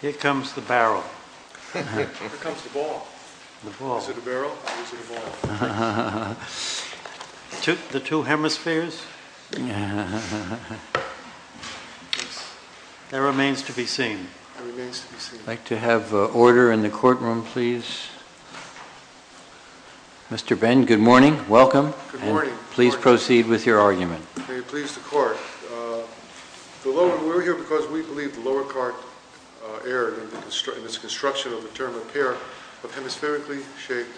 Here comes the barrel. Here comes the ball. Is it a barrel? Is it a ball? The two hemispheres? That remains to be seen. I'd like to have order in the courtroom, please. Mr. Ben, good morning. Welcome. Good morning. Please proceed with your argument. May it please the Court. We're here because we believe the lower court erred in its construction of the term repair of hemispherically shaped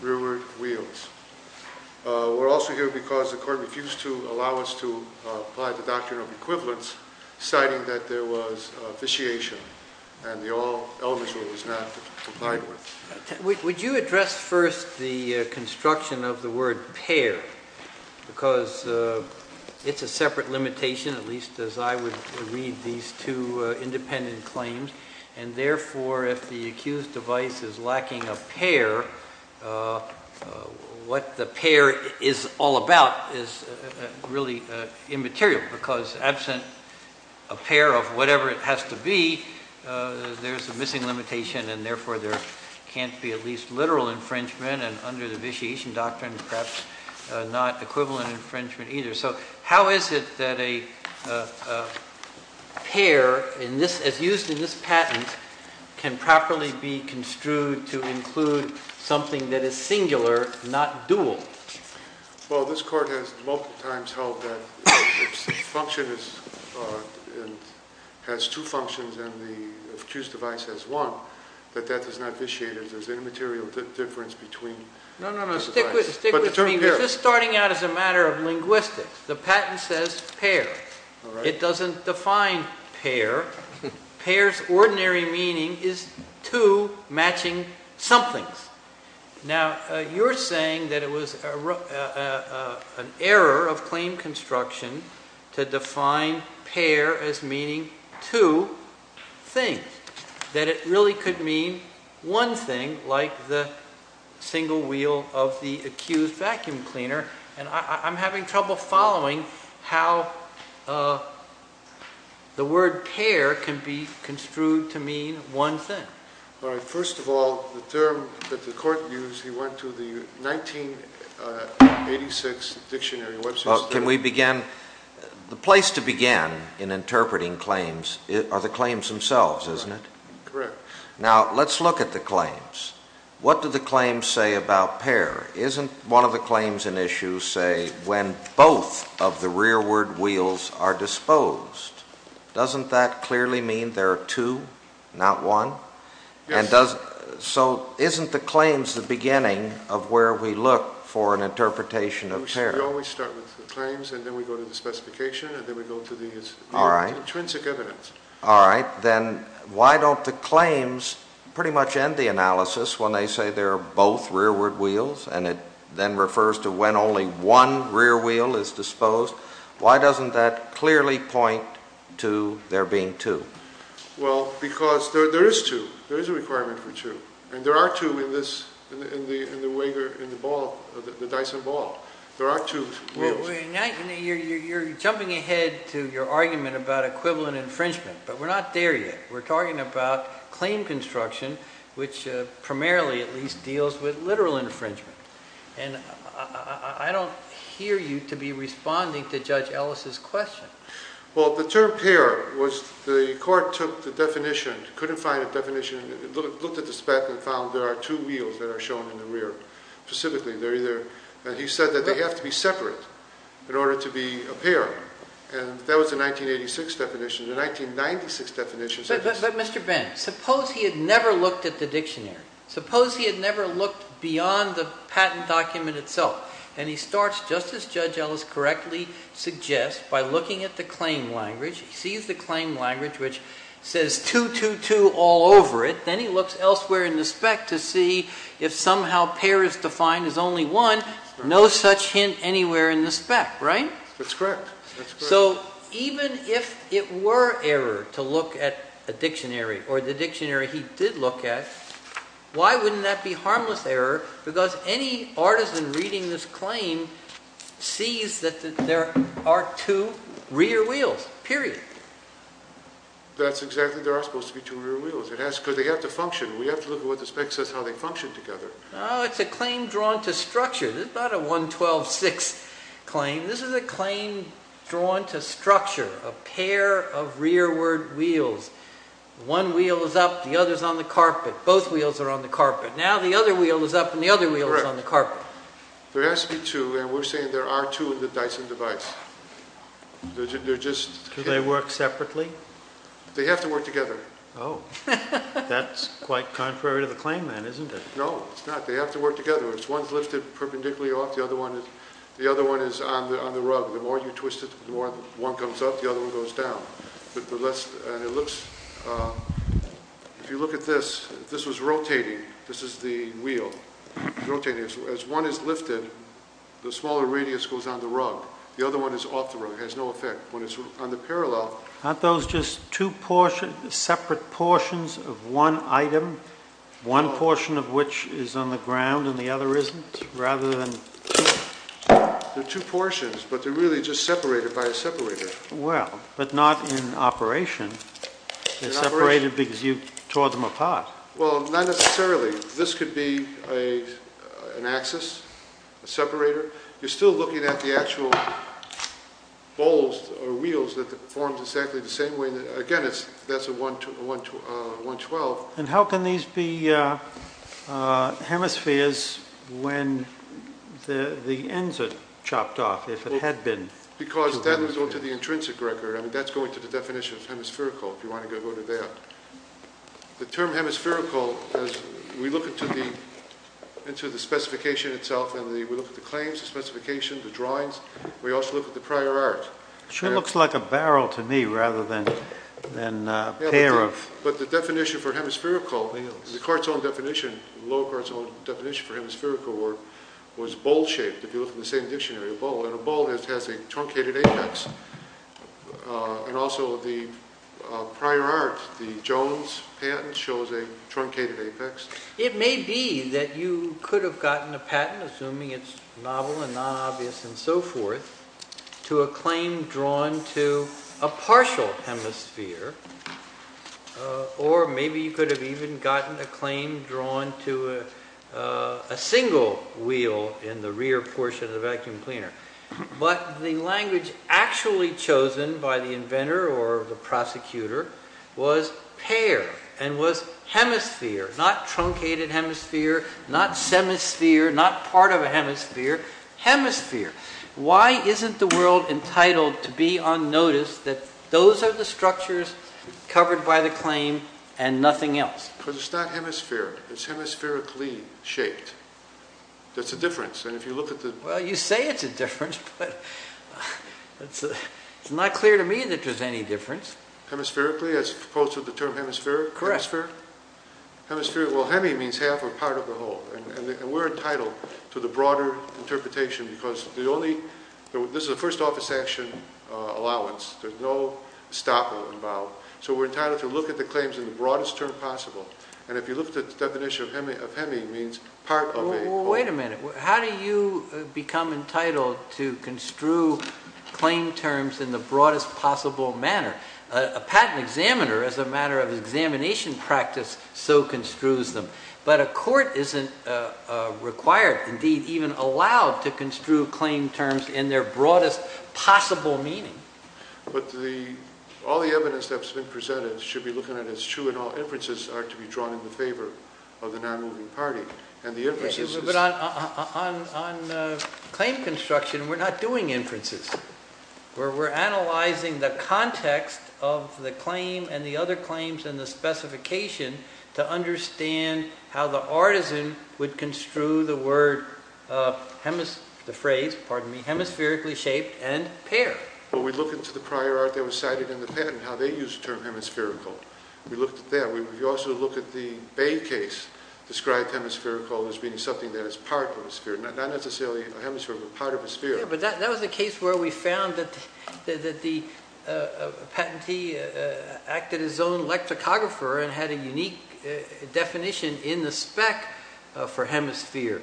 rearward wheels. We're also here because the Court refused to allow us to apply the doctrine of equivalence, citing that there was vitiation and the all elements were not complied with. Would you address first the construction of the word pair, because it's a separate limitation, at least as I would read these two independent claims, and therefore if the accused device is lacking a pair, what the pair is all about is really immaterial, because absent a pair of whatever it has to be, there's a missing limitation and therefore there can't be at least literal infringement, and under the vitiation doctrine perhaps not equivalent infringement either. So how is it that a pair, as used in this patent, can properly be construed to include something that is singular, not dual? Well, this Court has multiple times held that if a function has two functions and the accused device has one, that that does not vitiate it. There's an immaterial difference between the two devices. No, no, no, stick with me. It's just starting out as a matter of linguistics. The patent says pair. It doesn't define pair. Pair's ordinary meaning is two matching somethings. Now, you're saying that it was an error of claim construction to define pair as meaning two things, that it really could mean one thing like the single wheel of the accused vacuum cleaner, and I'm having trouble following how the word pair can be construed to mean one thing. All right, first of all, the term that the Court used, he went to the 1986 dictionary website. Well, can we begin? The place to begin in interpreting claims are the claims themselves, isn't it? Correct. Now, let's look at the claims. What do the claims say about pair? Isn't one of the claims in issue, say, when both of the rearward wheels are disposed? Doesn't that clearly mean there are two, not one? Yes. So isn't the claims the beginning of where we look for an interpretation of pair? We always start with the claims, and then we go to the specification, and then we go to the intrinsic evidence. All right. Then why don't the claims pretty much end the analysis when they say there are both rearward wheels, and it then refers to when only one rear wheel is disposed? Why doesn't that clearly point to there being two? Well, because there is two. There is a requirement for two, and there are two in the Dyson ball. There are two wheels. You're jumping ahead to your argument about equivalent infringement, but we're not there yet. We're talking about claim construction, which primarily at least deals with literal infringement. And I don't hear you to be responding to Judge Ellis' question. Well, the term pair was the court took the definition, couldn't find a definition, looked at the spec and found there are two wheels that are shown in the rear specifically. He said that they have to be separate in order to be a pair, and that was the 1986 definition. The 1996 definition said this. But, Mr. Benn, suppose he had never looked at the dictionary. Suppose he had never looked beyond the patent document itself, and he starts, just as Judge Ellis correctly suggests, by looking at the claim language. He sees the claim language, which says 222 all over it. Then he looks elsewhere in the spec to see if somehow pair is defined as only one. No such hint anywhere in the spec, right? That's correct. So even if it were error to look at a dictionary, or the dictionary he did look at, why wouldn't that be harmless error? Because any artisan reading this claim sees that there are two rear wheels, period. That's exactly. There are supposed to be two rear wheels. It has to, because they have to function. We have to look at what the spec says how they function together. Oh, it's a claim drawn to structure. This is not a 112-6 claim. This is a claim drawn to structure, a pair of rearward wheels. One wheel is up, the other is on the carpet. Both wheels are on the carpet. Now the other wheel is up, and the other wheel is on the carpet. There has to be two, and we're saying there are two of the Dyson device. Do they work separately? They have to work together. Oh, that's quite contrary to the claim, then, isn't it? No, it's not. They have to work together. One's lifted perpendicularly off. The other one is on the rug. The more you twist it, the more one comes up, the other one goes down. If you look at this, this was rotating. This is the wheel rotating. As one is lifted, the smaller radius goes on the rug. The other one is off the rug. It has no effect. When it's on the parallel… Aren't those just two separate portions of one item, one portion of which is on the ground and the other isn't? Rather than… They're two portions, but they're really just separated by a separator. Well, but not in operation. They're separated because you tore them apart. Well, not necessarily. This could be an axis, a separator. You're still looking at the actual bolts or wheels that form exactly the same way. Again, that's a 112. How can these be hemispheres when the ends are chopped off, if it had been? Because that would go to the intrinsic record. That's going to the definition of hemispherical, if you want to go to that. The term hemispherical, as we look into the specification itself, and we look at the claims, the specification, the drawings, we also look at the prior art. It sure looks like a barrel to me, rather than a pair of… But the definition for hemispherical, the lower Cartesian definition for hemispherical, was bowl-shaped, if you look in the same dictionary, a bowl. A bowl has a truncated apex. Also, the prior art, the Jones patent, shows a truncated apex. It may be that you could have gotten a patent, assuming it's novel and non-obvious and so forth, to a claim drawn to a partial hemisphere, or maybe you could have even gotten a claim drawn to a single wheel in the rear portion of the vacuum cleaner. But the language actually chosen by the inventor or the prosecutor was pair and was hemisphere, not truncated hemisphere, not semisphere, not part of a hemisphere, hemisphere. Why isn't the world entitled to be unnoticed that those are the structures covered by the claim and nothing else? Because it's not hemisphere, it's hemispherically shaped. That's the difference, and if you look at the… Well, you say it's a difference, but it's not clear to me that there's any difference. Hemispherically, as opposed to the term hemisphere? Correct. Hemisphere, well, hemi means half or part of the whole. And we're entitled to the broader interpretation, because this is a first office action allowance. There's no stopping involved. So we're entitled to look at the claims in the broadest term possible. And if you look at the definition of hemi, it means part of a… Wait a minute. How do you become entitled to construe claim terms in the broadest possible manner? A patent examiner, as a matter of examination practice, so construes them. But a court isn't required, indeed even allowed, to construe claim terms in their broadest possible meaning. But all the evidence that's been presented should be looking at as true and all inferences are to be drawn in favor of the non-moving party. But on claim construction, we're not doing inferences. We're analyzing the context of the claim and the other claims and the specification to understand how the artisan would construe the word, the phrase, pardon me, hemispherically shaped and paired. Well, we look into the prior art that was cited in the patent, how they used the term hemispherical. We looked at that. We also look at the Bay case, described hemispherical as being something that is part of a sphere, not necessarily a hemisphere, but part of a sphere. But that was the case where we found that the patentee acted as his own electrographer and had a unique definition in the spec for hemisphere.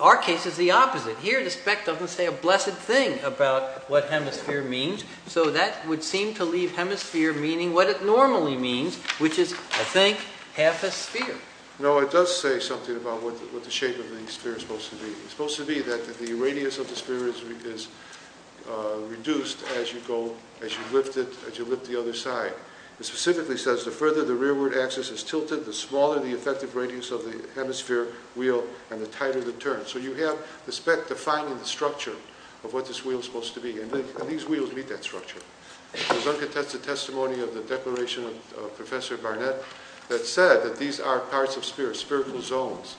Our case is the opposite. Here the spec doesn't say a blessed thing about what hemisphere means, so that would seem to leave hemisphere meaning what it normally means, which is, I think, half a sphere. No, it does say something about what the shape of the sphere is supposed to be. It's supposed to be that the radius of the sphere is reduced as you lift the other side. It specifically says the further the rearward axis is tilted, the smaller the effective radius of the hemisphere wheel and the tighter the turn. So you have the spec defining the structure of what this wheel is supposed to be, and these wheels meet that structure. There's uncontested testimony of the declaration of Professor Barnett that said that these are parts of spheres, spherical zones,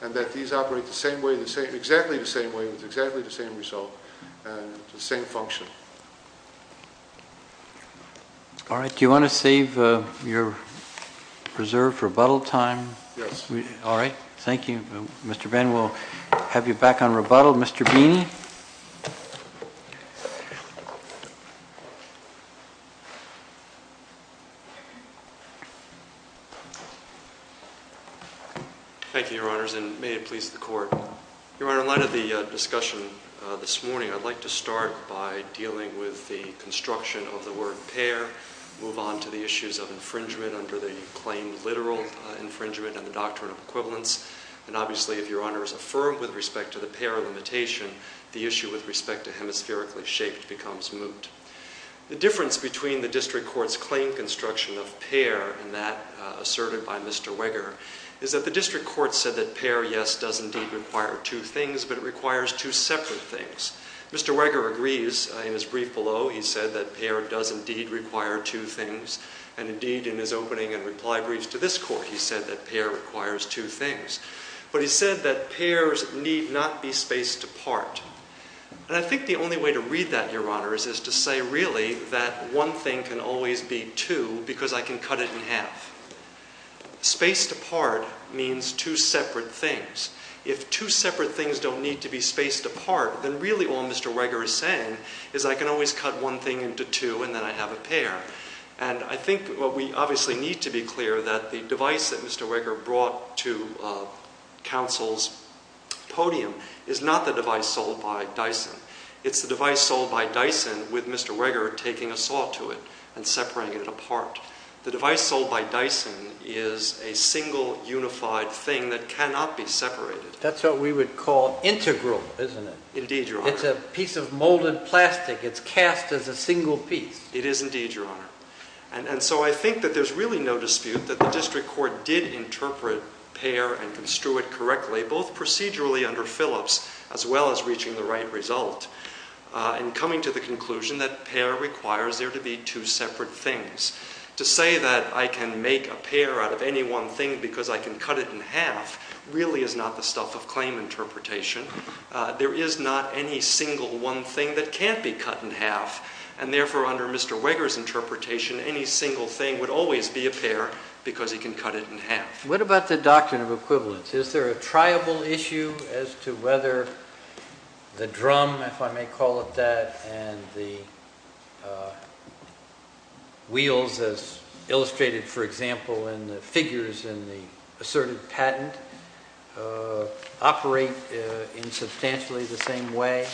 and that these operate the same way, exactly the same way, with exactly the same result and the same function. All right. Do you want to save your reserved rebuttal time? Yes. All right. Thank you. Mr. Benn, we'll have you back on rebuttal. Mr. Beeney? Thank you, Your Honors, and may it please the Court. Your Honor, in light of the discussion this morning, I'd like to start by dealing with the construction of the word pair, move on to the issues of infringement under the claim literal infringement and the doctrine of equivalence, and obviously if Your Honor is affirmed with respect to the pair limitation, the issue with respect to hemispherically shaped becomes moot. The difference between the district court's claim construction of pair and that asserted by Mr. Weger is that the district court said that pair, yes, does indeed require two things, but it requires two separate things. Mr. Weger agrees. In his brief below, he said that pair does indeed require two things, and indeed in his opening and reply brief to this court, he said that pair requires two things, but he said that pairs need not be spaced apart, and I think the only way to read that, Your Honor, is to say really that one thing can always be two because I can cut it in half. Spaced apart means two separate things. If two separate things don't need to be spaced apart, then really all Mr. Weger is saying is I can always cut one thing into two and then I have a pair, and I think we obviously need to be clear that the device that Mr. Weger brought to counsel's podium is not the device sold by Dyson. It's the device sold by Dyson with Mr. Weger taking a saw to it and separating it apart. The device sold by Dyson is a single unified thing that cannot be separated. That's what we would call integral, isn't it? Indeed, Your Honor. It's a piece of molded plastic. It's cast as a single piece. It is indeed, Your Honor. And so I think that there's really no dispute that the district court did interpret pair and construe it correctly, both procedurally under Phillips as well as reaching the right result and coming to the conclusion that pair requires there to be two separate things. To say that I can make a pair out of any one thing because I can cut it in half really is not the stuff of claim interpretation. There is not any single one thing that can't be cut in half, and therefore under Mr. Weger's interpretation, any single thing would always be a pair because he can cut it in half. What about the doctrine of equivalence? Is there a triable issue as to whether the drum, if I may call it that, and the wheels as illustrated, for example, in the figures in the asserted patent operate in substantially the same way?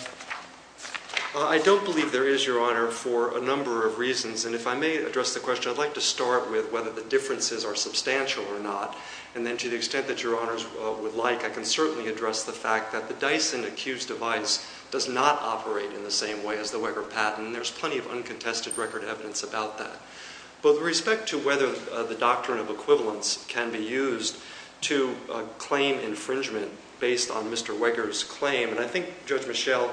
I don't believe there is, Your Honor, for a number of reasons, and if I may address the question, I'd like to start with whether the differences are substantial or not, and then to the extent that Your Honors would like, I can certainly address the fact that the Dyson accused device does not operate in the same way as the Weger patent, and there's plenty of uncontested record evidence about that. But with respect to whether the doctrine of equivalence can be used to claim infringement based on Mr. Weger's claim, and I think, Judge Michel,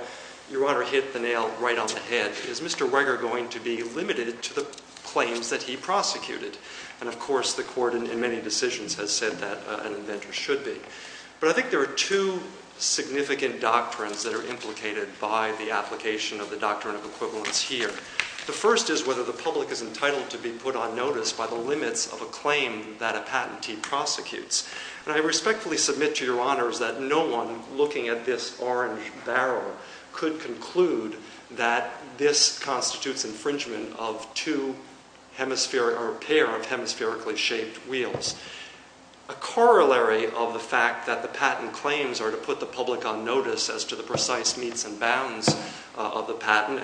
Your Honor hit the nail right on the head. Is Mr. Weger going to be limited to the claims that he prosecuted? And, of course, the court in many decisions has said that an inventor should be. But I think there are two significant doctrines that are implicated by the application of the doctrine of equivalence here. The first is whether the public is entitled to be put on notice by the limits of a claim that a patentee prosecutes. And I respectfully submit to Your Honors that no one looking at this orange barrel could conclude that this constitutes infringement of a pair of hemispherically shaped wheels. A corollary of the fact that the patent claims are to put the public on notice as to the precise meets and bounds of the patent,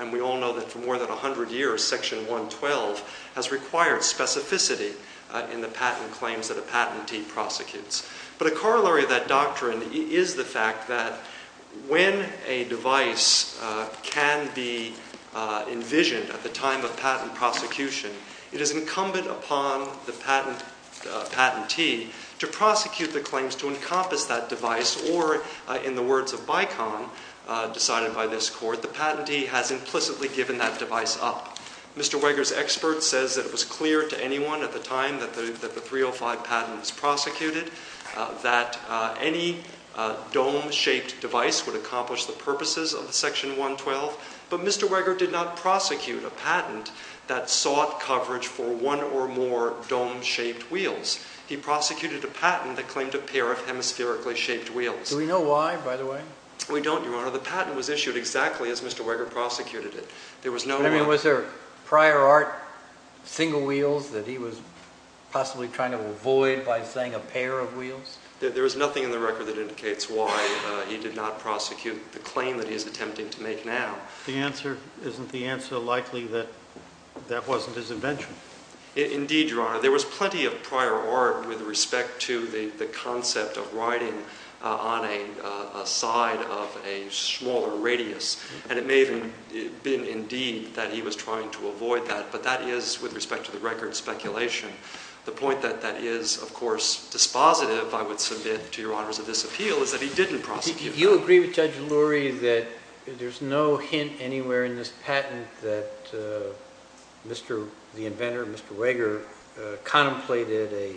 and we all know that for more than 100 years, Section 112 has required specificity in the patent claims that a patentee prosecutes. But a corollary of that doctrine is the fact that when a device can be envisioned at the time of patent prosecution, it is incumbent upon the patentee to prosecute the claims to encompass that device, or in the words of Bicon, decided by this court, the patentee has implicitly given that device up. Mr. Weger's expert says that it was clear to anyone at the time that the 305 patent was prosecuted, that any dome-shaped device would accomplish the purposes of Section 112, but Mr. Weger did not prosecute a patent that sought coverage for one or more dome-shaped wheels. He prosecuted a patent that claimed a pair of hemispherically shaped wheels. Do we know why, by the way? We don't, Your Honor. The patent was issued exactly as Mr. Weger prosecuted it. Was there prior art, single wheels, that he was possibly trying to avoid by saying a pair of wheels? There is nothing in the record that indicates why he did not prosecute the claim that he is attempting to make now. Isn't the answer likely that that wasn't his invention? Indeed, Your Honor. There was plenty of prior art with respect to the concept of riding on a side of a smaller radius, and it may have been indeed that he was trying to avoid that, but that is with respect to the record speculation. The point that that is, of course, dispositive, I would submit, to Your Honors of this appeal, is that he didn't prosecute it. Do you agree with Judge Lurie that there's no hint anywhere in this patent that the inventor, Mr. Weger, contemplated a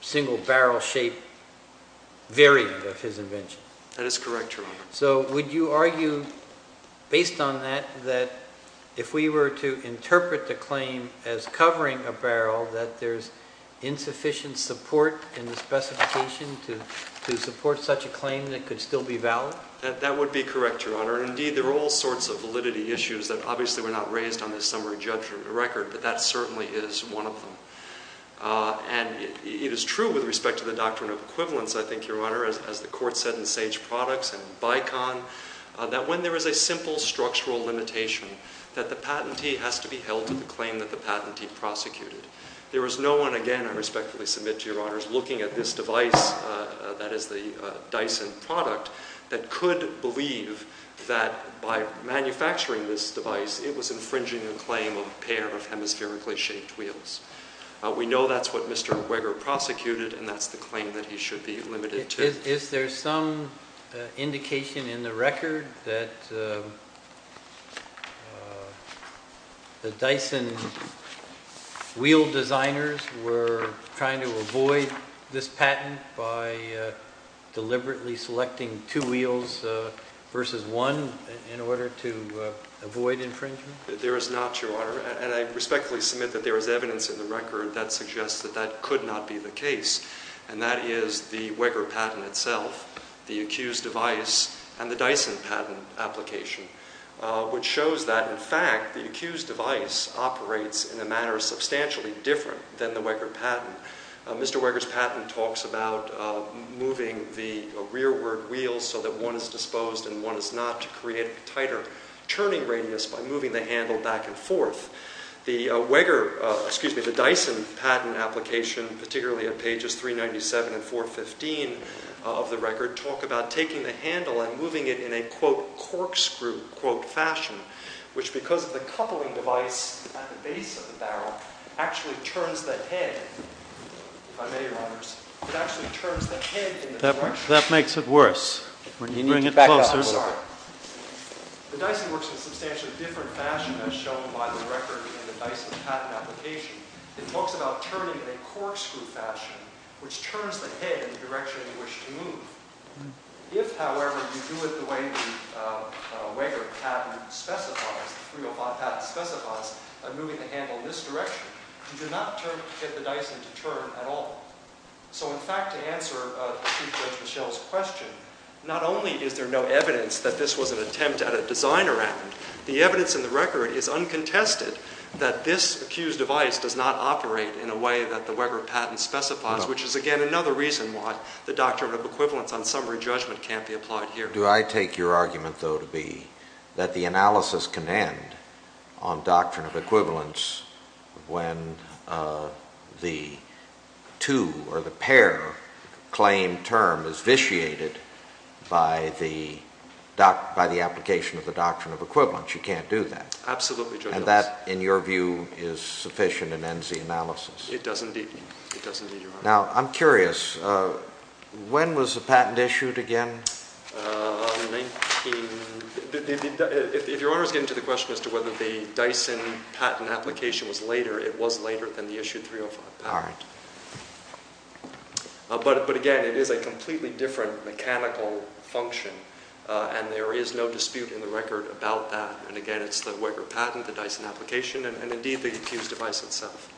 single barrel-shaped variant of his invention? That is correct, Your Honor. So would you argue, based on that, that if we were to interpret the claim as covering a barrel, that there's insufficient support in the specification to support such a claim that could still be valid? That would be correct, Your Honor. Indeed, there are all sorts of validity issues that obviously were not raised on this summary judgment record, but that certainly is one of them. And it is true with respect to the doctrine of equivalence, I think, Your Honor. As the Court said in Sage Products and Bicon, that when there is a simple structural limitation, that the patentee has to be held to the claim that the patentee prosecuted. There is no one, again, I respectfully submit to Your Honors, looking at this device that is the Dyson product that could believe that by manufacturing this device, it was infringing the claim of a pair of hemispherically shaped wheels. We know that's what Mr. Weger prosecuted, and that's the claim that he should be limited to. Is there some indication in the record that the Dyson wheel designers were trying to avoid this patent by deliberately selecting two wheels versus one in order to avoid infringement? There is not, Your Honor. That suggests that that could not be the case, and that is the Weger patent itself, the accused device, and the Dyson patent application, which shows that, in fact, the accused device operates in a manner substantially different than the Weger patent. Mr. Weger's patent talks about moving the rearward wheels so that one is disposed and one is not, to create a tighter turning radius by moving the handle back and forth. The Weger, excuse me, the Dyson patent application, particularly at pages 397 and 415 of the record, talk about taking the handle and moving it in a, quote, corkscrew, quote, fashion, which, because of the coupling device at the base of the barrel, actually turns the head, if I may, Your Honors, it actually turns the head in the direction. That makes it worse. We need to bring it closer. The Dyson works in a substantially different fashion as shown by the record in the Dyson patent application. It talks about turning in a corkscrew fashion, which turns the head in the direction you wish to move. If, however, you do it the way the Weger patent specifies, the 305 patent specifies, by moving the handle in this direction, you do not get the Dyson to turn at all. So, in fact, to answer Chief Judge Michel's question, not only is there no evidence that this was an attempt at a designer act, the evidence in the record is uncontested that this accused device does not operate in a way that the Weger patent specifies, which is, again, another reason why the Doctrine of Equivalence on summary judgment can't be applied here. Do I take your argument, though, to be that the analysis can end on Doctrine of Equivalence when the two or the pair claim term is vitiated by the application of the Doctrine of Equivalence? You can't do that? Absolutely, Judge Ellis. And that, in your view, is sufficient and ends the analysis? It does indeed, Your Honor. Now, I'm curious. When was the patent issued again? If Your Honor is getting to the question as to whether the Dyson patent application was later, it was later than the issued 305 patent. All right. But, again, it is a completely different mechanical function, and there is no dispute in the record about that. And, again, it's the Weger patent, the Dyson application, and, indeed, the accused device itself.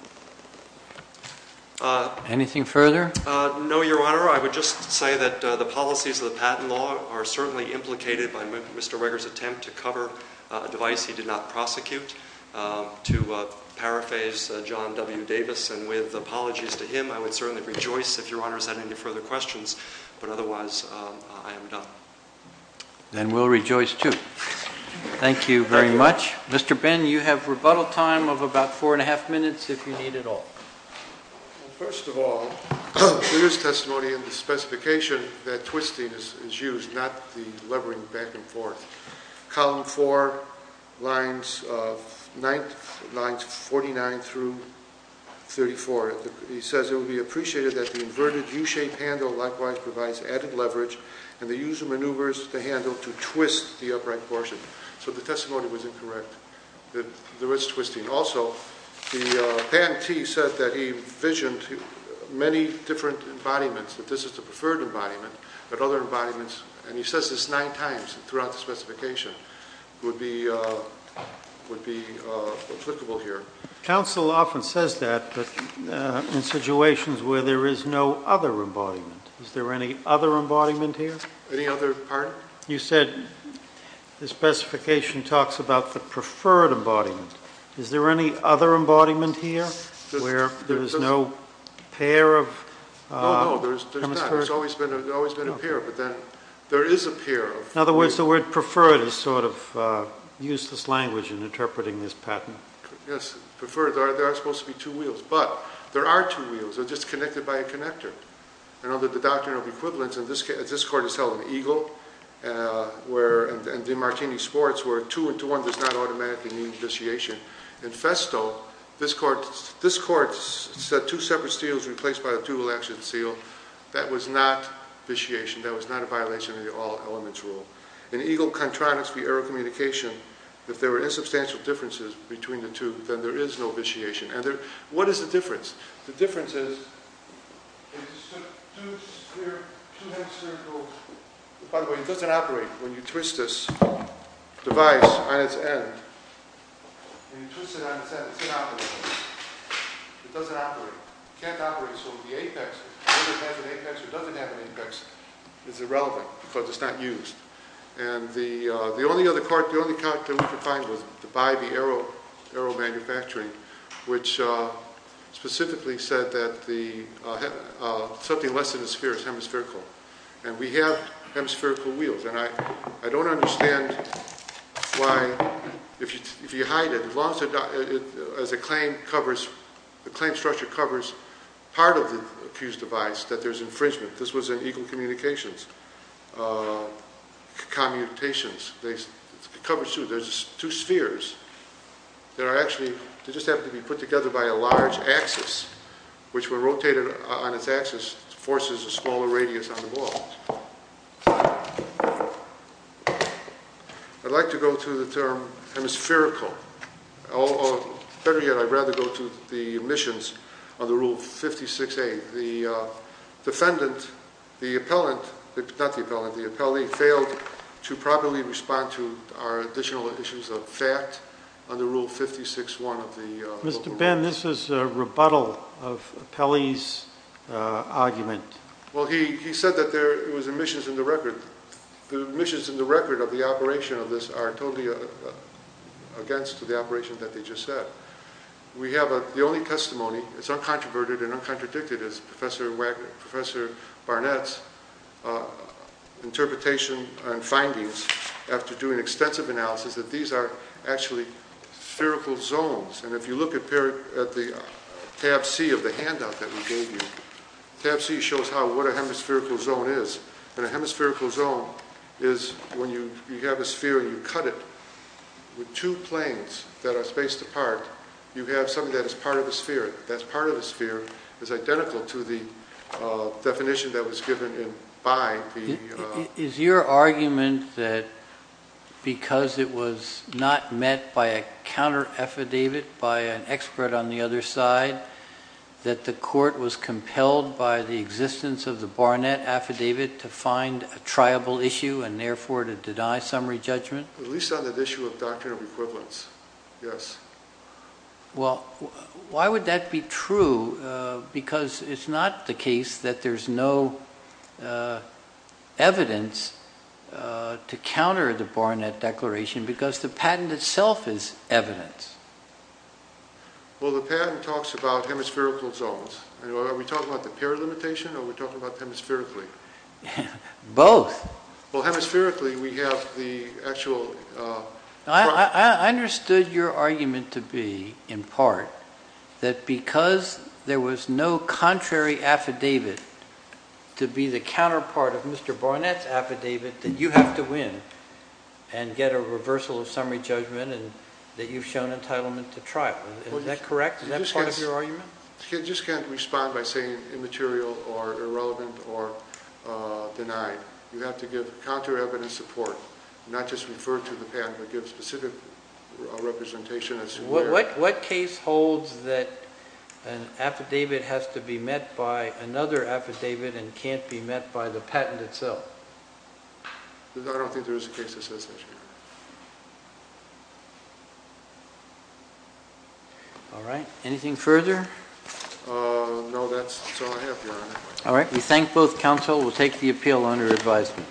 Anything further? No, Your Honor. I would just say that the policies of the patent law are certainly implicated by Mr. Weger's attempt to cover a device he did not prosecute. To paraphrase John W. Davis, and with apologies to him, I would certainly rejoice if Your Honor has had any further questions. But, otherwise, I am done. Then we'll rejoice, too. Thank you very much. Thank you. Mr. Ben, you have rebuttal time of about 4 1⁄2 minutes, if you need at all. Well, first of all, the witness testimony in the specification, that twisting is used, not the levering back and forth. Column 4, lines 49 through 34, he says, it would be appreciated that the inverted U-shaped handle likewise provides added leverage and the user maneuvers the handle to twist the upright portion. So the testimony was incorrect. There was twisting. Also, the pantee said that he envisioned many different embodiments, that this is the preferred embodiment, but other embodiments, and he says this nine times throughout the specification, would be applicable here. Counsel often says that in situations where there is no other embodiment. Is there any other embodiment here? Any other, pardon? You said the specification talks about the preferred embodiment. Is there any other embodiment here where there is no pair of hemispheres? No, no, there's not. There's always been a pair, but then there is a pair. In other words, the word preferred is sort of useless language in interpreting this pattern. Yes, preferred. There are supposed to be two wheels, but there are two wheels. They're just connected by a connector. And under the doctrine of equivalence, and this court is held in Eagle and DiMartini Sports where two into one does not automatically mean vitiation. In Festo, this court said two separate seals replaced by a dual-action seal. That was not vitiation. That was not a violation of the all-elements rule. In Eagle-Contronics v. Aerocommunication, if there were insubstantial differences between the two, then there is no vitiation. What is the difference? The difference is it's two half-circles. By the way, it doesn't operate when you twist this device on its end. When you twist it on its end, it's inoperable. It doesn't operate. It can't operate. So the apex, whether it has an apex or doesn't have an apex, is irrelevant because it's not used. And the only other court, the only court that we could find, was the Bybee Aero Manufacturing, which specifically said that something less than a sphere is hemispherical. And we have hemispherical wheels. And I don't understand why, if you hide it, as long as the claim structure covers part of the accused device, that there's infringement. This was in equal communications, commutations. It covers two. There's two spheres that just happen to be put together by a large axis, which, when rotated on its axis, forces a smaller radius on the wall. I'd like to go to the term hemispherical. Better yet, I'd rather go to the omissions of the Rule 56A. The defendant, the appellant, not the appellant, the appellee, failed to properly respond to our additional issues of fact under Rule 56-1 of the Local Rules. Mr. Ben, this is a rebuttal of the appellee's argument. Well, he said that there was omissions in the record. The omissions in the record of the operation of this are totally against the operation that they just said. We have the only testimony, it's uncontroverted and uncontradicted, is Professor Barnett's interpretation and findings after doing extensive analysis that these are actually spherical zones. And if you look at Tab C of the handout that we gave you, Tab C shows what a hemispherical zone is. And a hemispherical zone is when you have a sphere and you cut it with two planes that are spaced apart. You have something that is part of a sphere. That part of a sphere is identical to the definition that was given by the... Is your argument that because it was not met by a counter-affidavit by an expert on the other side that the court was compelled by the existence of the Barnett affidavit to find a triable issue and therefore to deny summary judgment? At least on the issue of doctrine of equivalence, yes. Well, why would that be true? Because it's not the case that there's no evidence to counter the Barnett Declaration because the patent itself is evidence. Well, the patent talks about hemispherical zones. Are we talking about the pair limitation or are we talking about hemispherically? Both. Well, hemispherically we have the actual... I understood your argument to be, in part, that because there was no contrary affidavit to be the counterpart of Mr. Barnett's affidavit that you have to win and get a reversal of summary judgment and that you've shown entitlement to trial. Is that correct? Is that part of your argument? You just can't respond by saying immaterial or irrelevant or denied. You have to give counter evidence support, not just refer to the patent, but give specific representation as to where... What case holds that an affidavit has to be met by another affidavit and can't be met by the patent itself? I don't think there is a case that says that, Your Honor. All right. Anything further? No, that's all I have, Your Honor. All right. We thank both counsel. We'll take the appeal under advisement.